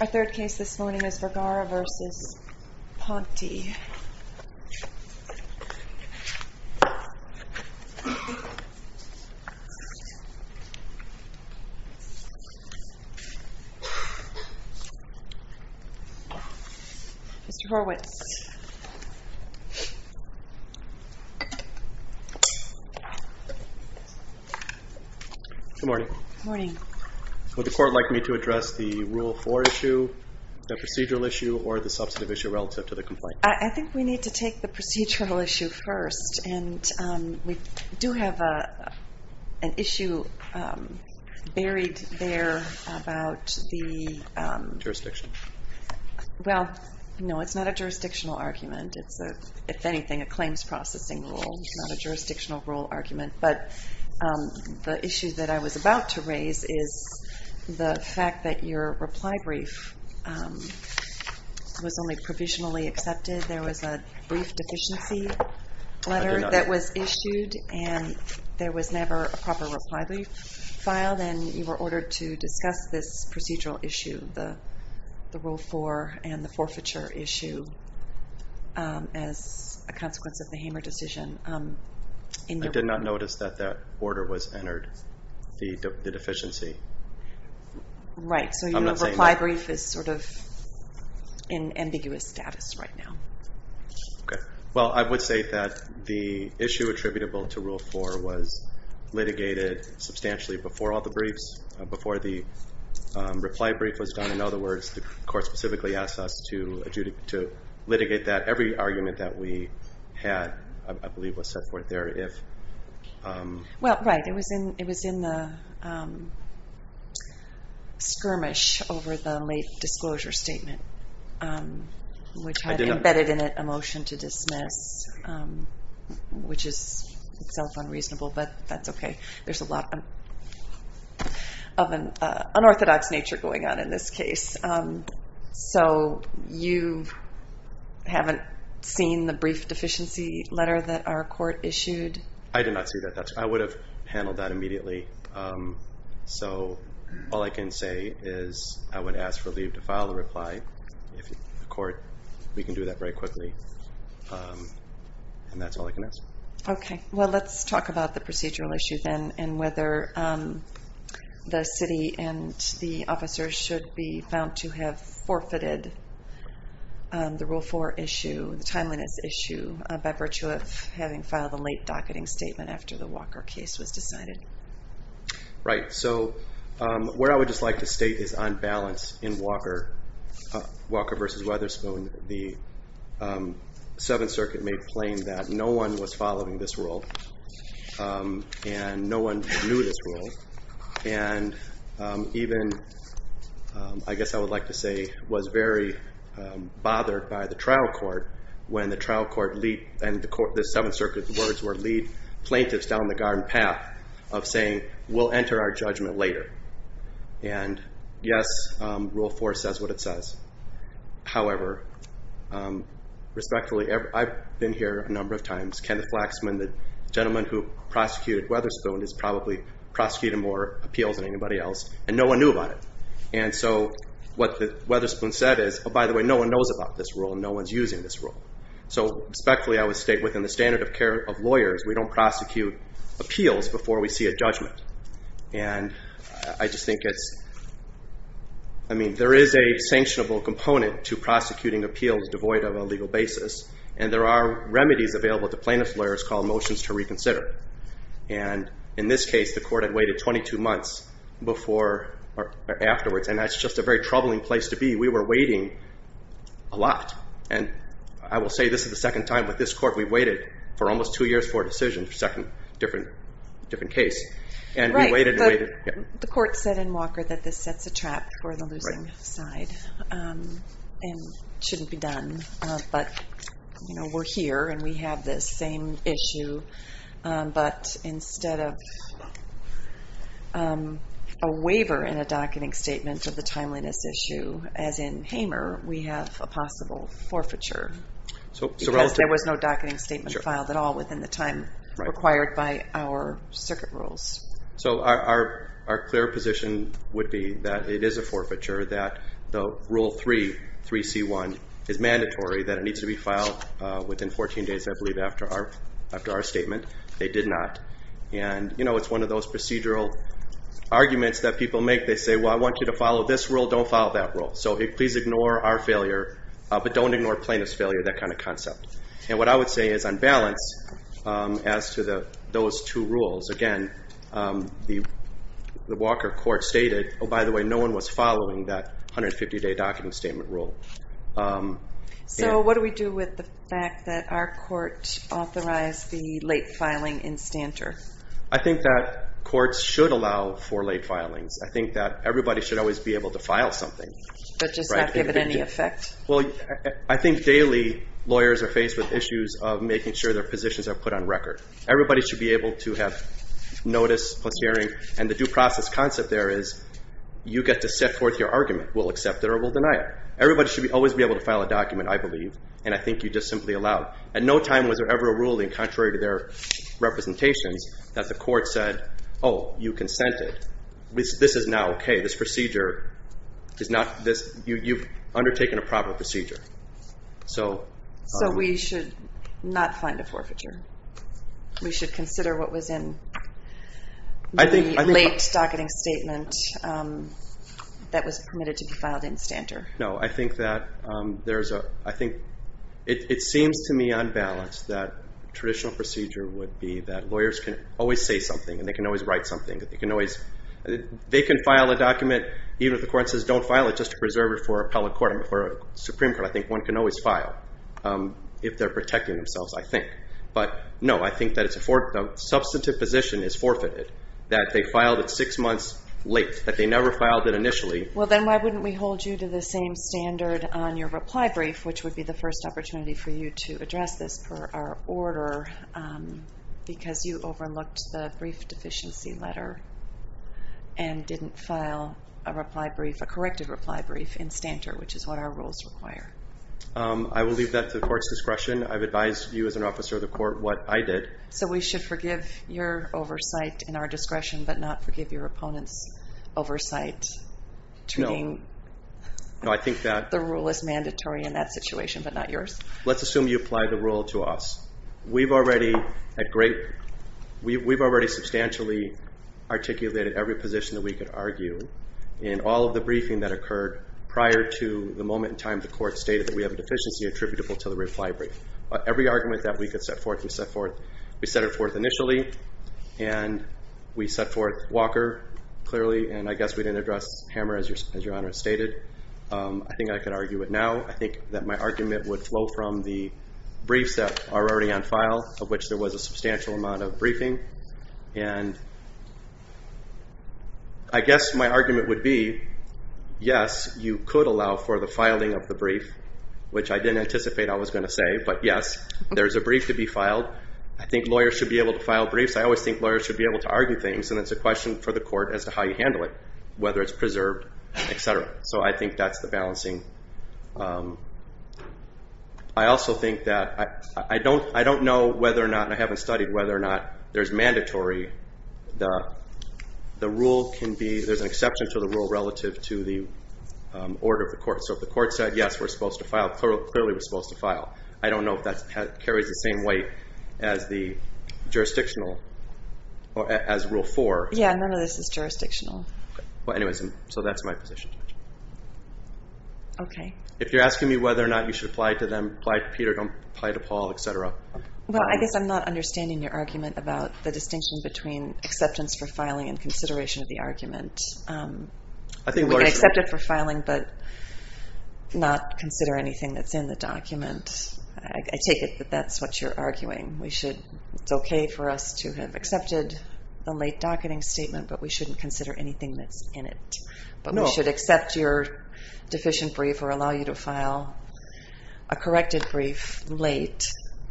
Our third case this morning is Vergara v. Ponte. Let's see. Mr. Horwitz. Good morning. Good morning. Would the court like me to address the Rule 4 issue, the procedural issue, or the substantive issue relative to the complaint? I think we need to take the procedural issue first. And we do have an issue buried there about the Jurisdiction. Well, no, it's not a jurisdictional argument. It's, if anything, a claims processing rule. It's not a jurisdictional rule argument. But the issue that I was about to raise is the fact that your reply brief was only provisionally accepted. There was a brief deficiency letter that was issued, and there was never a proper reply brief filed. Well, then, you were ordered to discuss this procedural issue, the Rule 4 and the forfeiture issue, as a consequence of the Hamer decision. I did not notice that that order was entered, the deficiency. Right, so your reply brief is sort of in ambiguous status right now. Well, I would say that the issue attributable to Rule 4 was litigated substantially before all the briefs, before the reply brief was done. In other words, the court specifically asked us to litigate that. Every argument that we had, I believe, was set forth there. Well, right, it was in the skirmish over the late disclosure statement, which had embedded in it a motion to dismiss, which is itself unreasonable, but that's okay. There's a lot of an unorthodox nature going on in this case. So you haven't seen the brief deficiency letter that our court issued? I did not see that. I would have handled that immediately. So all I can say is I would ask for leave to file the reply. The court, we can do that very quickly, and that's all I can ask. Okay. Well, let's talk about the procedural issue then and whether the city and the officers should be found to have forfeited the Rule 4 issue, the timeliness issue, by virtue of having filed a late docketing statement after the Walker case was decided. Right. So what I would just like to state is on balance in Walker v. Weatherspoon, the Seventh Circuit made plain that no one was following this rule, and no one knew this rule, and even, I guess I would like to say, was very bothered by the trial court when the trial court, and the Seventh Circuit's words were, lead plaintiffs down the garden path of saying, we'll enter our judgment later. And yes, Rule 4 says what it says. However, respectfully, I've been here a number of times. Kenneth Flaxman, the gentleman who prosecuted Weatherspoon, has probably prosecuted more appeals than anybody else, and no one knew about it. And so what Weatherspoon said is, oh, by the way, no one knows about this rule, and no one's using this rule. So respectfully, I would state within the standard of care of lawyers, we don't prosecute appeals before we see a judgment. And I just think it's, I mean, there is a sanctionable component to prosecuting appeals devoid of a legal basis, and there are remedies available to plaintiff's lawyers called motions to reconsider. And in this case, the court had waited 22 months before or afterwards, and that's just a very troubling place to be. We were waiting a lot, and I will say this is the second time with this court we've waited for almost two years for a decision, second different case, and we waited and waited. The court said in Walker that this sets a trap for the losing side and shouldn't be done, but we're here and we have this same issue, but instead of a waiver in a docketing statement of the timeliness issue, as in Hamer, we have a possible forfeiture because there was no docketing statement filed at all within the time required by our circuit rules. So our clear position would be that it is a forfeiture, that the Rule 3, 3C1, is mandatory, that it needs to be filed within 14 days, I believe, after our statement. They did not. And it's one of those procedural arguments that people make. They say, well, I want you to follow this rule, don't follow that rule. So please ignore our failure, but don't ignore plaintiff's failure, that kind of concept. And what I would say is on balance as to those two rules, again, the Walker court stated, oh, by the way, no one was following that 150-day docketing statement rule. So what do we do with the fact that our court authorized the late filing in Stanter? I think that courts should allow for late filings. I think that everybody should always be able to file something. But just not give it any effect? Well, I think daily lawyers are faced with issues of making sure their positions are put on record. Everybody should be able to have notice plus hearing, and the due process concept there is you get to set forth your argument. We'll accept it or we'll deny it. Everybody should always be able to file a document, I believe, and I think you just simply allow. At no time was there ever a ruling contrary to their representations that the court said, oh, you consented. This is now okay. This procedure is not this. You've undertaken a proper procedure. So we should not find a forfeiture. We should consider what was in the late docketing statement that was permitted to be filed in Stanter. No, I think that there's a – I think it seems to me on balance that traditional procedure would be that lawyers can always say something and they can always write something. They can file a document, even if the court says don't file it, just to preserve it for appellate court and for Supreme Court. I think one can always file if they're protecting themselves, I think. But no, I think that a substantive position is forfeited, that they filed it six months late, that they never filed it initially. Well, then why wouldn't we hold you to the same standard on your reply brief, which would be the first opportunity for you to address this per our order, because you overlooked the brief deficiency letter and didn't file a reply brief, a corrected reply brief in Stanter, which is what our rules require. I will leave that to the court's discretion. I've advised you as an officer of the court what I did. So we should forgive your oversight and our discretion, but not forgive your opponent's oversight? No. Treating the rule as mandatory in that situation, but not yours? Let's assume you apply the rule to us. We've already substantially articulated every position that we could argue in all of the briefing that occurred prior to the moment in time the court stated that we have a deficiency attributable to the reply brief. Every argument that we could set forth, we set it forth initially, and we set forth Walker clearly, and I guess we didn't address Hammer, as Your Honor stated. I think I could argue it now. I think that my argument would flow from the briefs that are already on file, of which there was a substantial amount of briefing, and I guess my argument would be, yes, you could allow for the filing of the brief, which I didn't anticipate I was going to say, but yes, there's a brief to be filed. I think lawyers should be able to file briefs. I always think lawyers should be able to argue things, and it's a question for the court as to how you handle it, whether it's preserved, et cetera. So I think that's the balancing. I also think that I don't know whether or not, and I haven't studied whether or not there's mandatory, the rule can be, there's an exception to the rule relative to the order of the court. So if the court said, yes, we're supposed to file, clearly we're supposed to file. I don't know if that carries the same weight as the jurisdictional, as Rule 4. Yeah, none of this is jurisdictional. Well, anyways, so that's my position. Okay. If you're asking me whether or not you should apply to them, apply to Peter, don't apply to Paul, et cetera. Well, I guess I'm not understanding your argument about the distinction between acceptance for filing and consideration of the argument. We can accept it for filing, but not consider anything that's in the document. I take it that that's what you're arguing. We should, it's okay for us to have accepted the late docketing statement, but we shouldn't consider anything that's in it. No. But we should accept your deficient brief or allow you to file a corrected brief late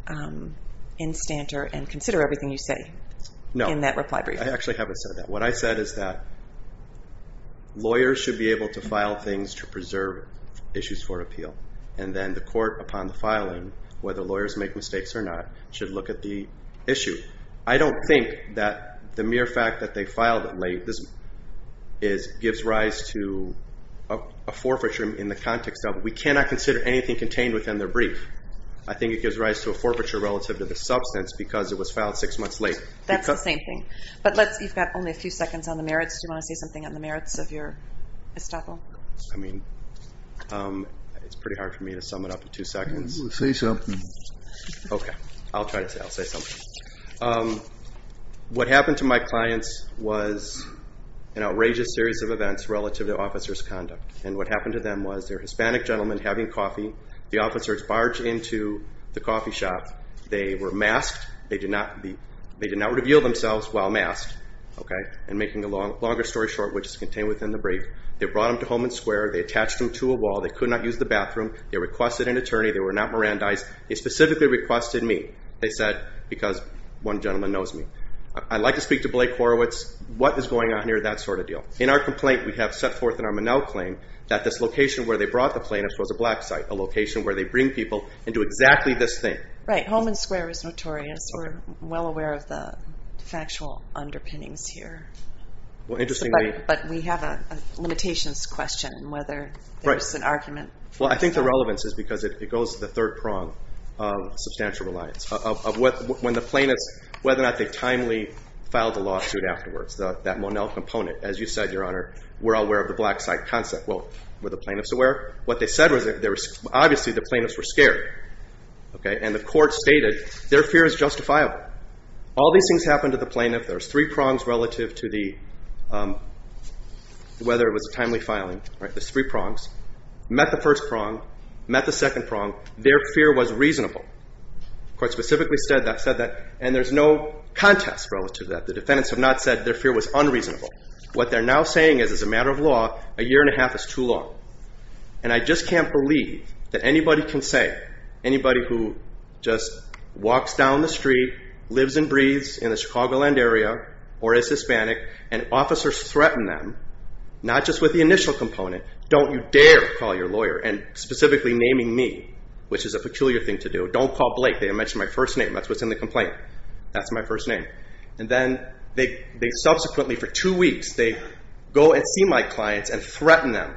in Stanter and consider everything you say in that reply brief. No, I actually haven't said that. What I said is that lawyers should be able to file things to preserve issues for appeal, and then the court, upon the filing, whether lawyers make mistakes or not, should look at the issue. I don't think that the mere fact that they filed it late gives rise to a forfeiture in the context of we cannot consider anything contained within their brief. I think it gives rise to a forfeiture relative to the substance because it was filed six months late. That's the same thing. But you've got only a few seconds on the merits. Do you want to say something on the merits of your estoppel? I mean, it's pretty hard for me to sum it up in two seconds. Say something. Okay. I'll try to say it. I'll say something. What happened to my clients was an outrageous series of events relative to officers' conduct. And what happened to them was they're Hispanic gentlemen having coffee. The officers barge into the coffee shop. They were masked. They did not reveal themselves while masked. Okay? And making a longer story short, which is contained within the brief, they brought them to Holman Square. They attached them to a wall. They could not use the bathroom. They requested an attorney. They were not Mirandized. They specifically requested me, they said, because one gentleman knows me. I'd like to speak to Blake Horowitz. What is going on here, that sort of deal? In our complaint, we have set forth in our Monell claim that this location where they brought the plaintiffs was a black site, a location where they bring people and do exactly this thing. Right. Holman Square is notorious. We're well aware of the factual underpinnings here. But we have a limitations question whether there's an argument. Well, I think the relevance is because it goes to the third prong of substantial reliance. When the plaintiffs, whether or not they timely filed a lawsuit afterwards, that Monell component, as you said, Your Honor, we're aware of the black site concept. Well, were the plaintiffs aware? What they said was obviously the plaintiffs were scared. Okay? And the court stated their fear is justifiable. All these things happened to the plaintiff. There's three prongs relative to whether it was a timely filing. All right. There's three prongs. Met the first prong. Met the second prong. Their fear was reasonable. The court specifically said that. And there's no contest relative to that. The defendants have not said their fear was unreasonable. What they're now saying is as a matter of law, a year and a half is too long. And I just can't believe that anybody can say, anybody who just walks down the street, lives and breathes in the Chicagoland area, or is Hispanic, and officers threaten them, not just with the initial component, don't you dare call your lawyer, and specifically naming me, which is a peculiar thing to do. Don't call Blake. They mentioned my first name. That's what's in the complaint. That's my first name. And then they subsequently, for two weeks, they go and see my clients and threaten them.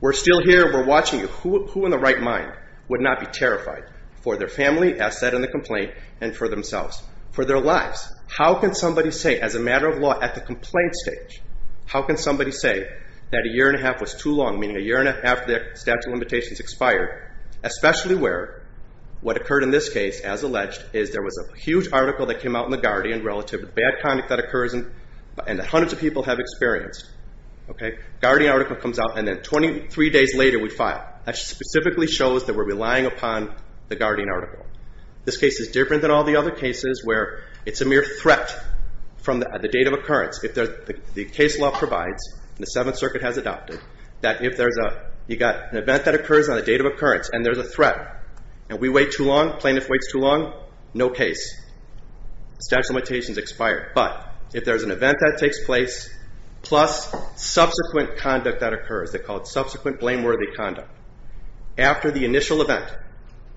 We're still here. We're watching you. Who in the right mind would not be terrified for their family, as said in the complaint, and for themselves, for their lives? How can somebody say, as a matter of law, at the complaint stage, how can somebody say that a year and a half was too long, meaning a year and a half after the statute of limitations expired, especially where what occurred in this case, as alleged, is there was a huge article that came out in the Guardian relative to bad conduct that occurs and hundreds of people have experienced. Guardian article comes out, and then 23 days later, we file. That specifically shows that we're relying upon the Guardian article. This case is different than all the other cases where it's a mere threat from the date of occurrence. The case law provides, and the Seventh Circuit has adopted, that if you've got an event that occurs on a date of occurrence and there's a threat, and we wait too long, plaintiff waits too long, no case. Statute of limitations expired. But if there's an event that takes place plus subsequent conduct that occurs, they call it subsequent blameworthy conduct, after the initial event,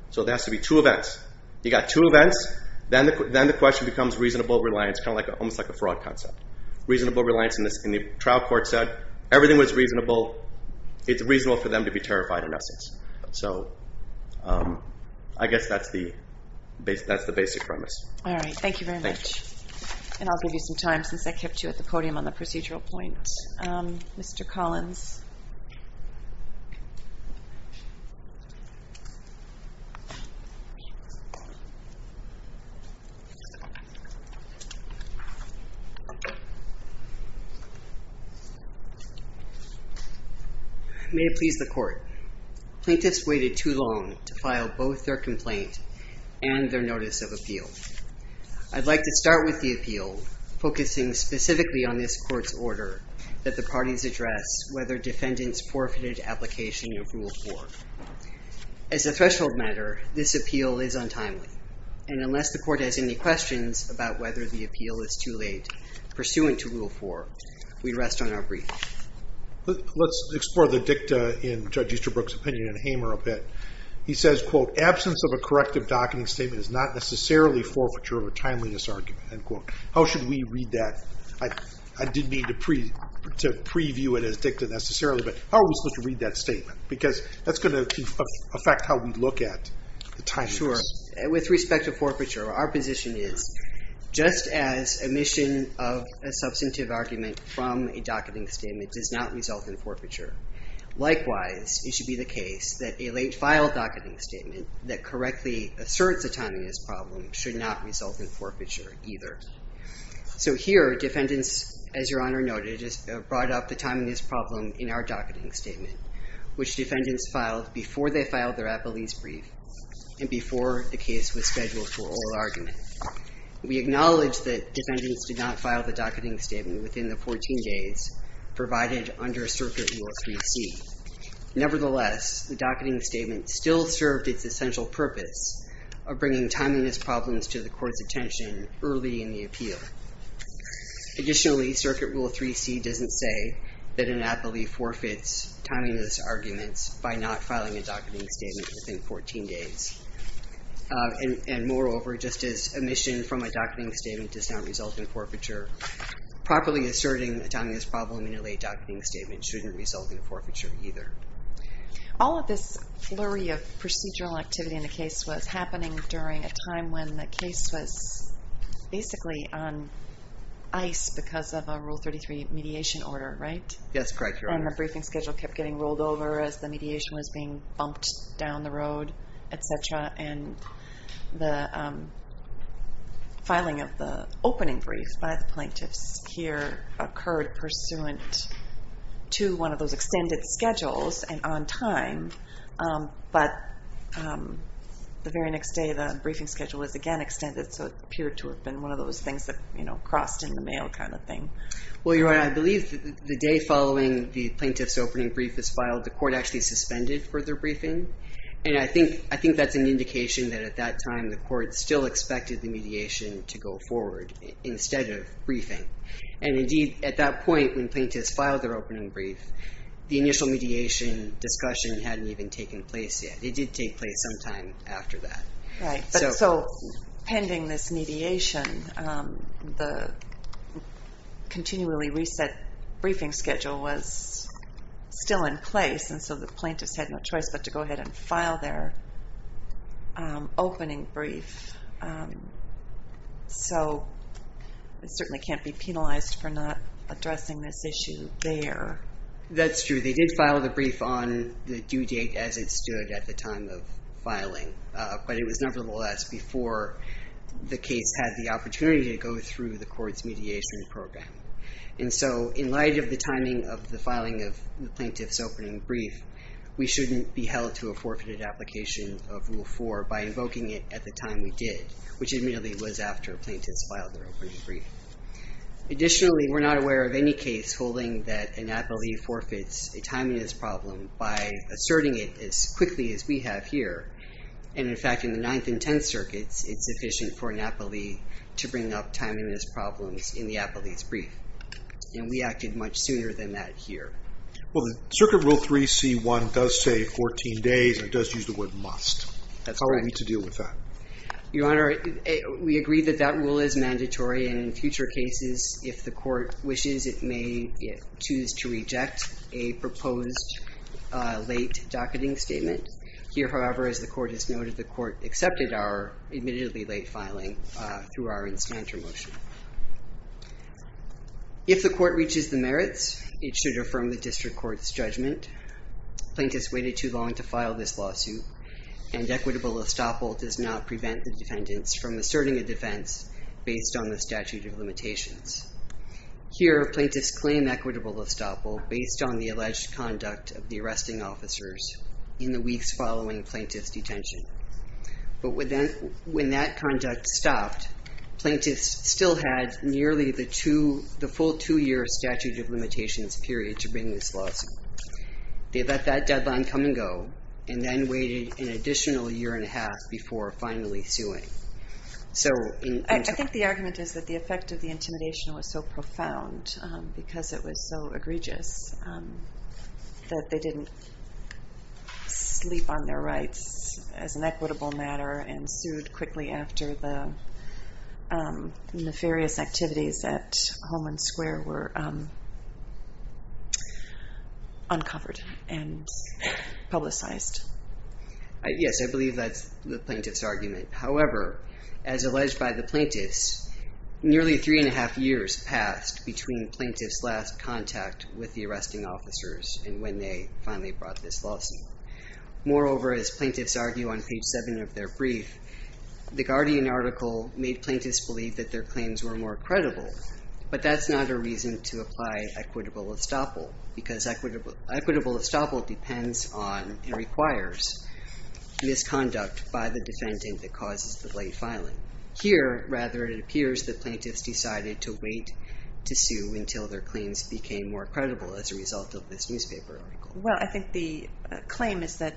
so there has to be two events, you've got two events, then the question becomes reasonable reliance, almost like a fraud concept. Reasonable reliance, and the trial court said everything was reasonable. It's reasonable for them to be terrified, in essence. So I guess that's the basic premise. All right, thank you very much, and I'll give you some time since I kept you at the podium on the procedural point. Mr. Collins. May it please the Court. Plaintiffs waited too long to file both their complaint and their notice of appeal. I'd like to start with the appeal, focusing specifically on this Court's order that the parties address whether defendants forfeited application of Rule 4. As a threshold matter, this appeal is untimely, and unless the Court has any questions about whether the appeal is too late pursuant to Rule 4, we rest on our brief. Let's explore the dicta in Judge Easterbrook's opinion and Hamer a bit. He says, quote, absence of a corrective docketing statement is not necessarily forfeiture of a timeliness argument, end quote. How should we read that? I didn't mean to preview it as dicta necessarily, but how are we supposed to read that statement? Because that's going to affect how we look at the timeliness. Sure, and with respect to forfeiture, our position is just as omission of a substantive argument from a docketing statement does not result in forfeiture. Likewise, it should be the case that a late file docketing statement that correctly asserts a timeliness problem should not result in forfeiture either. So here, defendants, as Your Honor noted, brought up the timeliness problem in our docketing statement, which defendants filed before they filed their appellees' brief and before the case was scheduled for oral argument. We acknowledge that defendants did not file the docketing statement within the 14 days provided under Circuit Rule 3C. Nevertheless, the docketing statement still served its essential purpose of bringing timeliness problems to the Court's attention early in the appeal. Additionally, Circuit Rule 3C doesn't say that an appellee forfeits timeliness arguments by not filing a docketing statement within 14 days. And moreover, just as omission from a docketing statement does not result in forfeiture, properly asserting a timeliness problem in a late docketing statement shouldn't result in forfeiture either. All of this flurry of procedural activity in the case was happening during a time when the case was basically on ice because of a Rule 33 mediation order, right? Yes, correct, Your Honor. And the briefing schedule kept getting rolled over as the mediation was being bumped down the road, et cetera, and the filing of the opening brief by the plaintiffs here occurred pursuant to one of those extended schedules and on time, but the very next day the briefing schedule was again extended so it appeared to have been one of those things that crossed in the mail kind of thing. Well, Your Honor, I believe the day following when the plaintiff's opening brief is filed, the court actually suspended further briefing, and I think that's an indication that at that time the court still expected the mediation to go forward instead of briefing. And indeed, at that point when plaintiffs filed their opening brief, the initial mediation discussion hadn't even taken place yet. It did take place sometime after that. Right, but so pending this mediation, the continually reset briefing schedule was still in place, and so the plaintiffs had no choice but to go ahead and file their opening brief. So it certainly can't be penalized for not addressing this issue there. That's true. They did file the brief on the due date as it stood at the time of filing, but it was nevertheless before the case had the opportunity to go through the court's mediation program. And so in light of the timing of the filing of the plaintiff's opening brief, we shouldn't be held to a forfeited application of Rule 4 by invoking it at the time we did, which immediately was after plaintiffs filed their opening brief. Additionally, we're not aware of any case holding that an appellee forfeits a timeiness problem by asserting it as quickly as we have here. And, in fact, in the Ninth and Tenth Circuits, it's efficient for an appellee to bring up timeliness problems in the appellee's brief, and we acted much sooner than that here. Well, the Circuit Rule 3C1 does say 14 days, and it does use the word must. That's correct. How are we to deal with that? Your Honor, we agree that that rule is mandatory, and in future cases, if the court wishes, it may choose to reject a proposed late docketing statement. Here, however, as the court has noted, the court accepted our admittedly late filing through our Insmanter motion. If the court reaches the merits, it should affirm the district court's judgment. Plaintiffs waited too long to file this lawsuit, and equitable estoppel does not prevent the defendants from asserting a defense based on the statute of limitations. Here, plaintiffs claim equitable estoppel based on the alleged conduct of the arresting officers in the weeks following plaintiff's detention. But when that conduct stopped, plaintiffs still had nearly the full two-year statute of limitations period to bring this lawsuit. They let that deadline come and go, and then waited an additional year and a half before finally suing. I think the argument is that the effect of the intimidation was so profound because it was so egregious that they didn't sleep on their rights as an equitable matter and sued quickly after the nefarious activities at Holman Square were uncovered and publicized. Yes, I believe that's the plaintiff's argument. However, as alleged by the plaintiffs, nearly three and a half years passed between plaintiff's last contact with the arresting officers and when they finally brought this lawsuit. Moreover, as plaintiffs argue on page 7 of their brief, the Guardian article made plaintiffs believe that their claims were more credible, but that's not a reason to apply equitable estoppel because equitable estoppel depends on and requires misconduct by the defendant that causes the late filing. Here, rather, it appears that plaintiffs decided to wait to sue until their claims became more credible as a result of this newspaper article. Well, I think the claim is that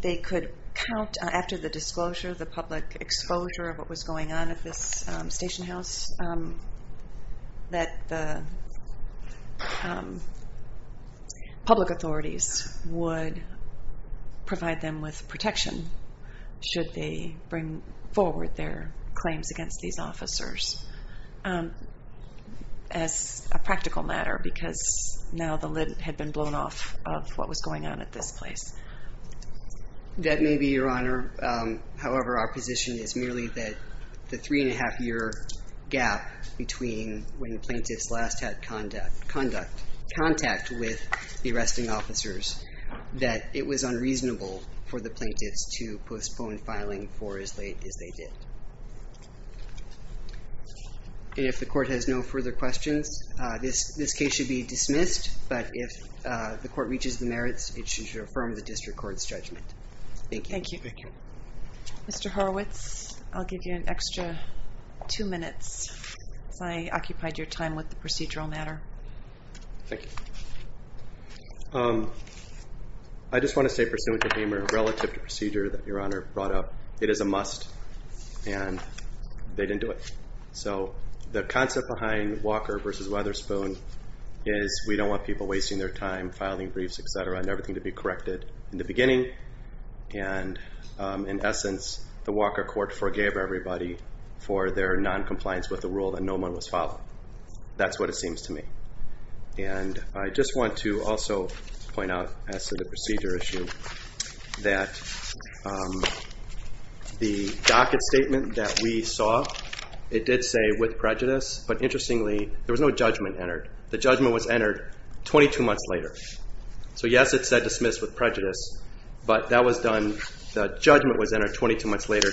they could count, after the disclosure, the public exposure of what was going on at this station house, that the public authorities would provide them with protection should they bring forward their claims against these officers as a practical matter, because now the lid had been blown off of what was going on at this place. That may be your honor. However, our position is merely that the three and a half year gap that it was unreasonable for the plaintiffs to postpone filing for as late as they did. And if the court has no further questions, this case should be dismissed, but if the court reaches the merits, it should affirm the district court's judgment. Thank you. Thank you. Mr. Horowitz, I'll give you an extra two minutes because I occupied your time with the procedural matter. Thank you. I just want to say pursuant to Hamer, relative to procedure that your honor brought up, it is a must, and they didn't do it. So the concept behind Walker v. Weatherspoon is we don't want people wasting their time filing briefs, et cetera, and everything to be corrected in the beginning. And in essence, the Walker court forgave everybody for their noncompliance with the rule that no one was following. That's what it seems to me. And I just want to also point out as to the procedure issue that the docket statement that we saw, it did say with prejudice, but interestingly there was no judgment entered. The judgment was entered 22 months later. So yes, it said dismissed with prejudice, but that was done, the judgment was entered 22 months later,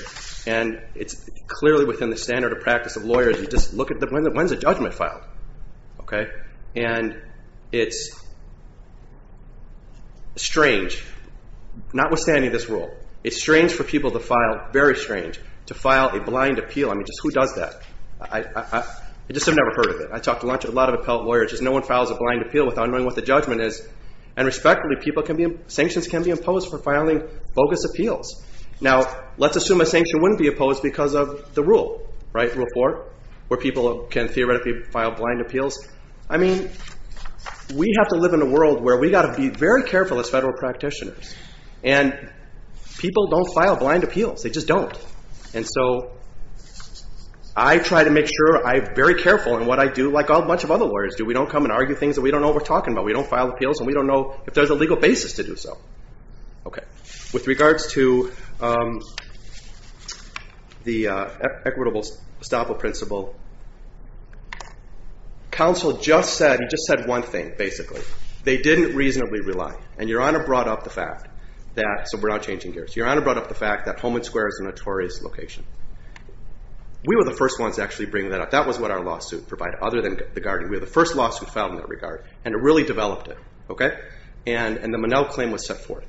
and it's clearly within the standard of practice of lawyers. You just look at when is a judgment filed? And it's strange, notwithstanding this rule, it's strange for people to file, very strange, to file a blind appeal. I mean, just who does that? I just have never heard of it. I talked to a lot of appellate lawyers. Just no one files a blind appeal without knowing what the judgment is. And respectively, sanctions can be imposed for filing bogus appeals. Now, let's assume a sanction wouldn't be opposed because of the rule, right, Rule 4, where people can theoretically file blind appeals. I mean, we have to live in a world where we've got to be very careful as federal practitioners. And people don't file blind appeals. They just don't. And so I try to make sure I'm very careful in what I do, like a bunch of other lawyers do. We don't come and argue things that we don't know what we're talking about. We don't file appeals and we don't know if there's a legal basis to do so. Okay. With regards to the equitable estoppel principle, counsel just said, he just said one thing, basically. They didn't reasonably rely. And Your Honor brought up the fact that, so we're not changing gears. Your Honor brought up the fact that Holman Square is a notorious location. We were the first ones to actually bring that up. That was what our lawsuit provided, other than the guardian. We were the first lawsuit filed in that regard. And it really developed it, okay? And the Monell claim was set forth.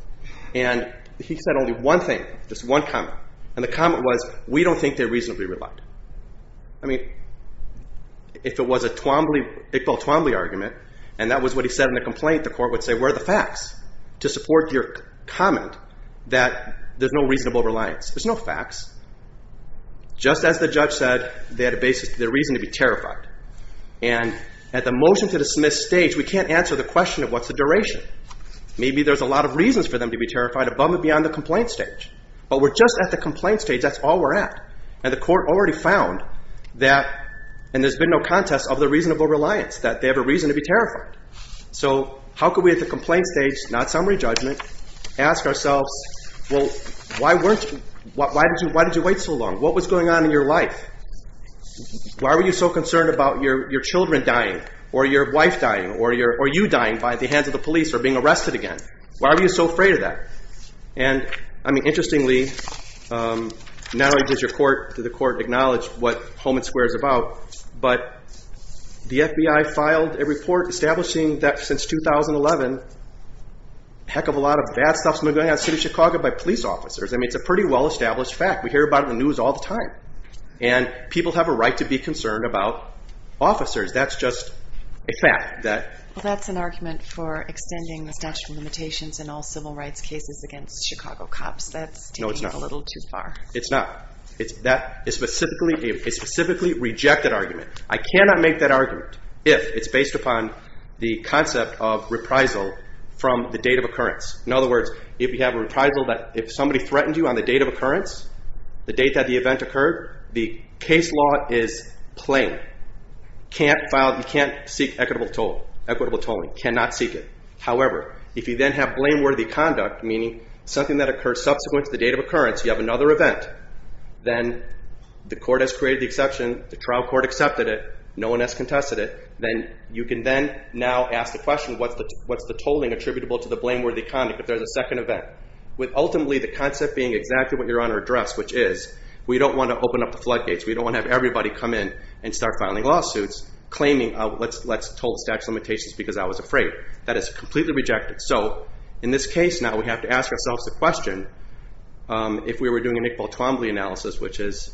And he said only one thing, just one comment. And the comment was, we don't think they reasonably relied. I mean, if it was a Twombly, Iqbal Twombly argument, and that was what he said in the complaint, the court would say, where are the facts to support your comment that there's no reasonable reliance? There's no facts. Just as the judge said, they had a reason to be terrified. And at the motion to dismiss stage, we can't answer the question of what's the duration. Maybe there's a lot of reasons for them to be terrified, above and beyond the complaint stage. But we're just at the complaint stage. That's all we're at. And the court already found that, and there's been no contest of the reasonable reliance, that they have a reason to be terrified. So how could we at the complaint stage, not summary judgment, ask ourselves, well, why did you wait so long? What was going on in your life? Why were you so concerned about your children dying or your wife dying or you dying by the hands of the police or being arrested again? Why were you so afraid of that? And, I mean, interestingly, not only does the court acknowledge what Home and Square is about, but the FBI filed a report establishing that since 2011, a heck of a lot of bad stuff's been going on in the city of Chicago by police officers. I mean, it's a pretty well-established fact. We hear about it in the news all the time. And people have a right to be concerned about officers. That's just a fact. Well, that's an argument for extending the statute of limitations in all civil rights cases against Chicago cops. That's taking it a little too far. No, it's not. It's not. That is specifically a rejected argument. I cannot make that argument if it's based upon the concept of reprisal from the date of occurrence. In other words, if you have a reprisal that if somebody threatened you on the date of occurrence, the date that the event occurred, the case law is plain. You can't seek equitable tolling. Cannot seek it. However, if you then have blameworthy conduct, meaning something that occurs subsequent to the date of occurrence, you have another event, then the court has created the exception, the trial court accepted it, no one has contested it, then you can then now ask the question, what's the tolling attributable to the blameworthy conduct if there's a second event? With ultimately the concept being exactly what you're on our address, which is we don't want to open up the floodgates. We don't want to have everybody come in and start filing lawsuits claiming, let's toll the statute of limitations because I was afraid. That is completely rejected. So in this case now we have to ask ourselves the question, if we were doing an Iqbal Twombly analysis, which is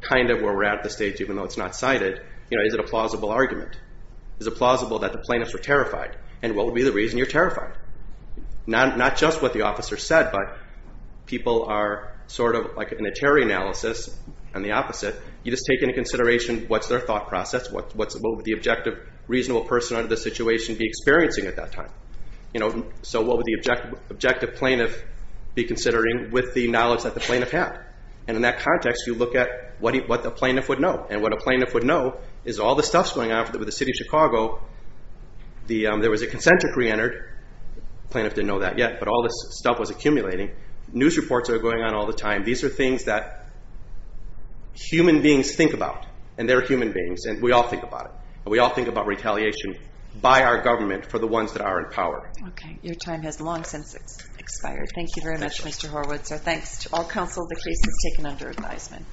kind of where we're at at this stage even though it's not cited, is it a plausible argument? Is it plausible that the plaintiffs were terrified? And what would be the reason you're terrified? Not just what the officer said, but people are sort of like in a terror analysis and the opposite. You just take into consideration what's their thought process, what would the objective reasonable person under the situation be experiencing at that time? So what would the objective plaintiff be considering with the knowledge that the plaintiff had? And in that context you look at what a plaintiff would know, and what a plaintiff would know is all the stuff's going on. With the City of Chicago there was a concentric re-entered. The plaintiff didn't know that yet, but all this stuff was accumulating. News reports are going on all the time. These are things that human beings think about, and they're human beings, and we all think about it. We all think about retaliation by our government for the ones that are in power. Okay. Your time has long since expired. Thank you very much, Mr. Horwitz. Our thanks to all counsel. The case is taken under advisement.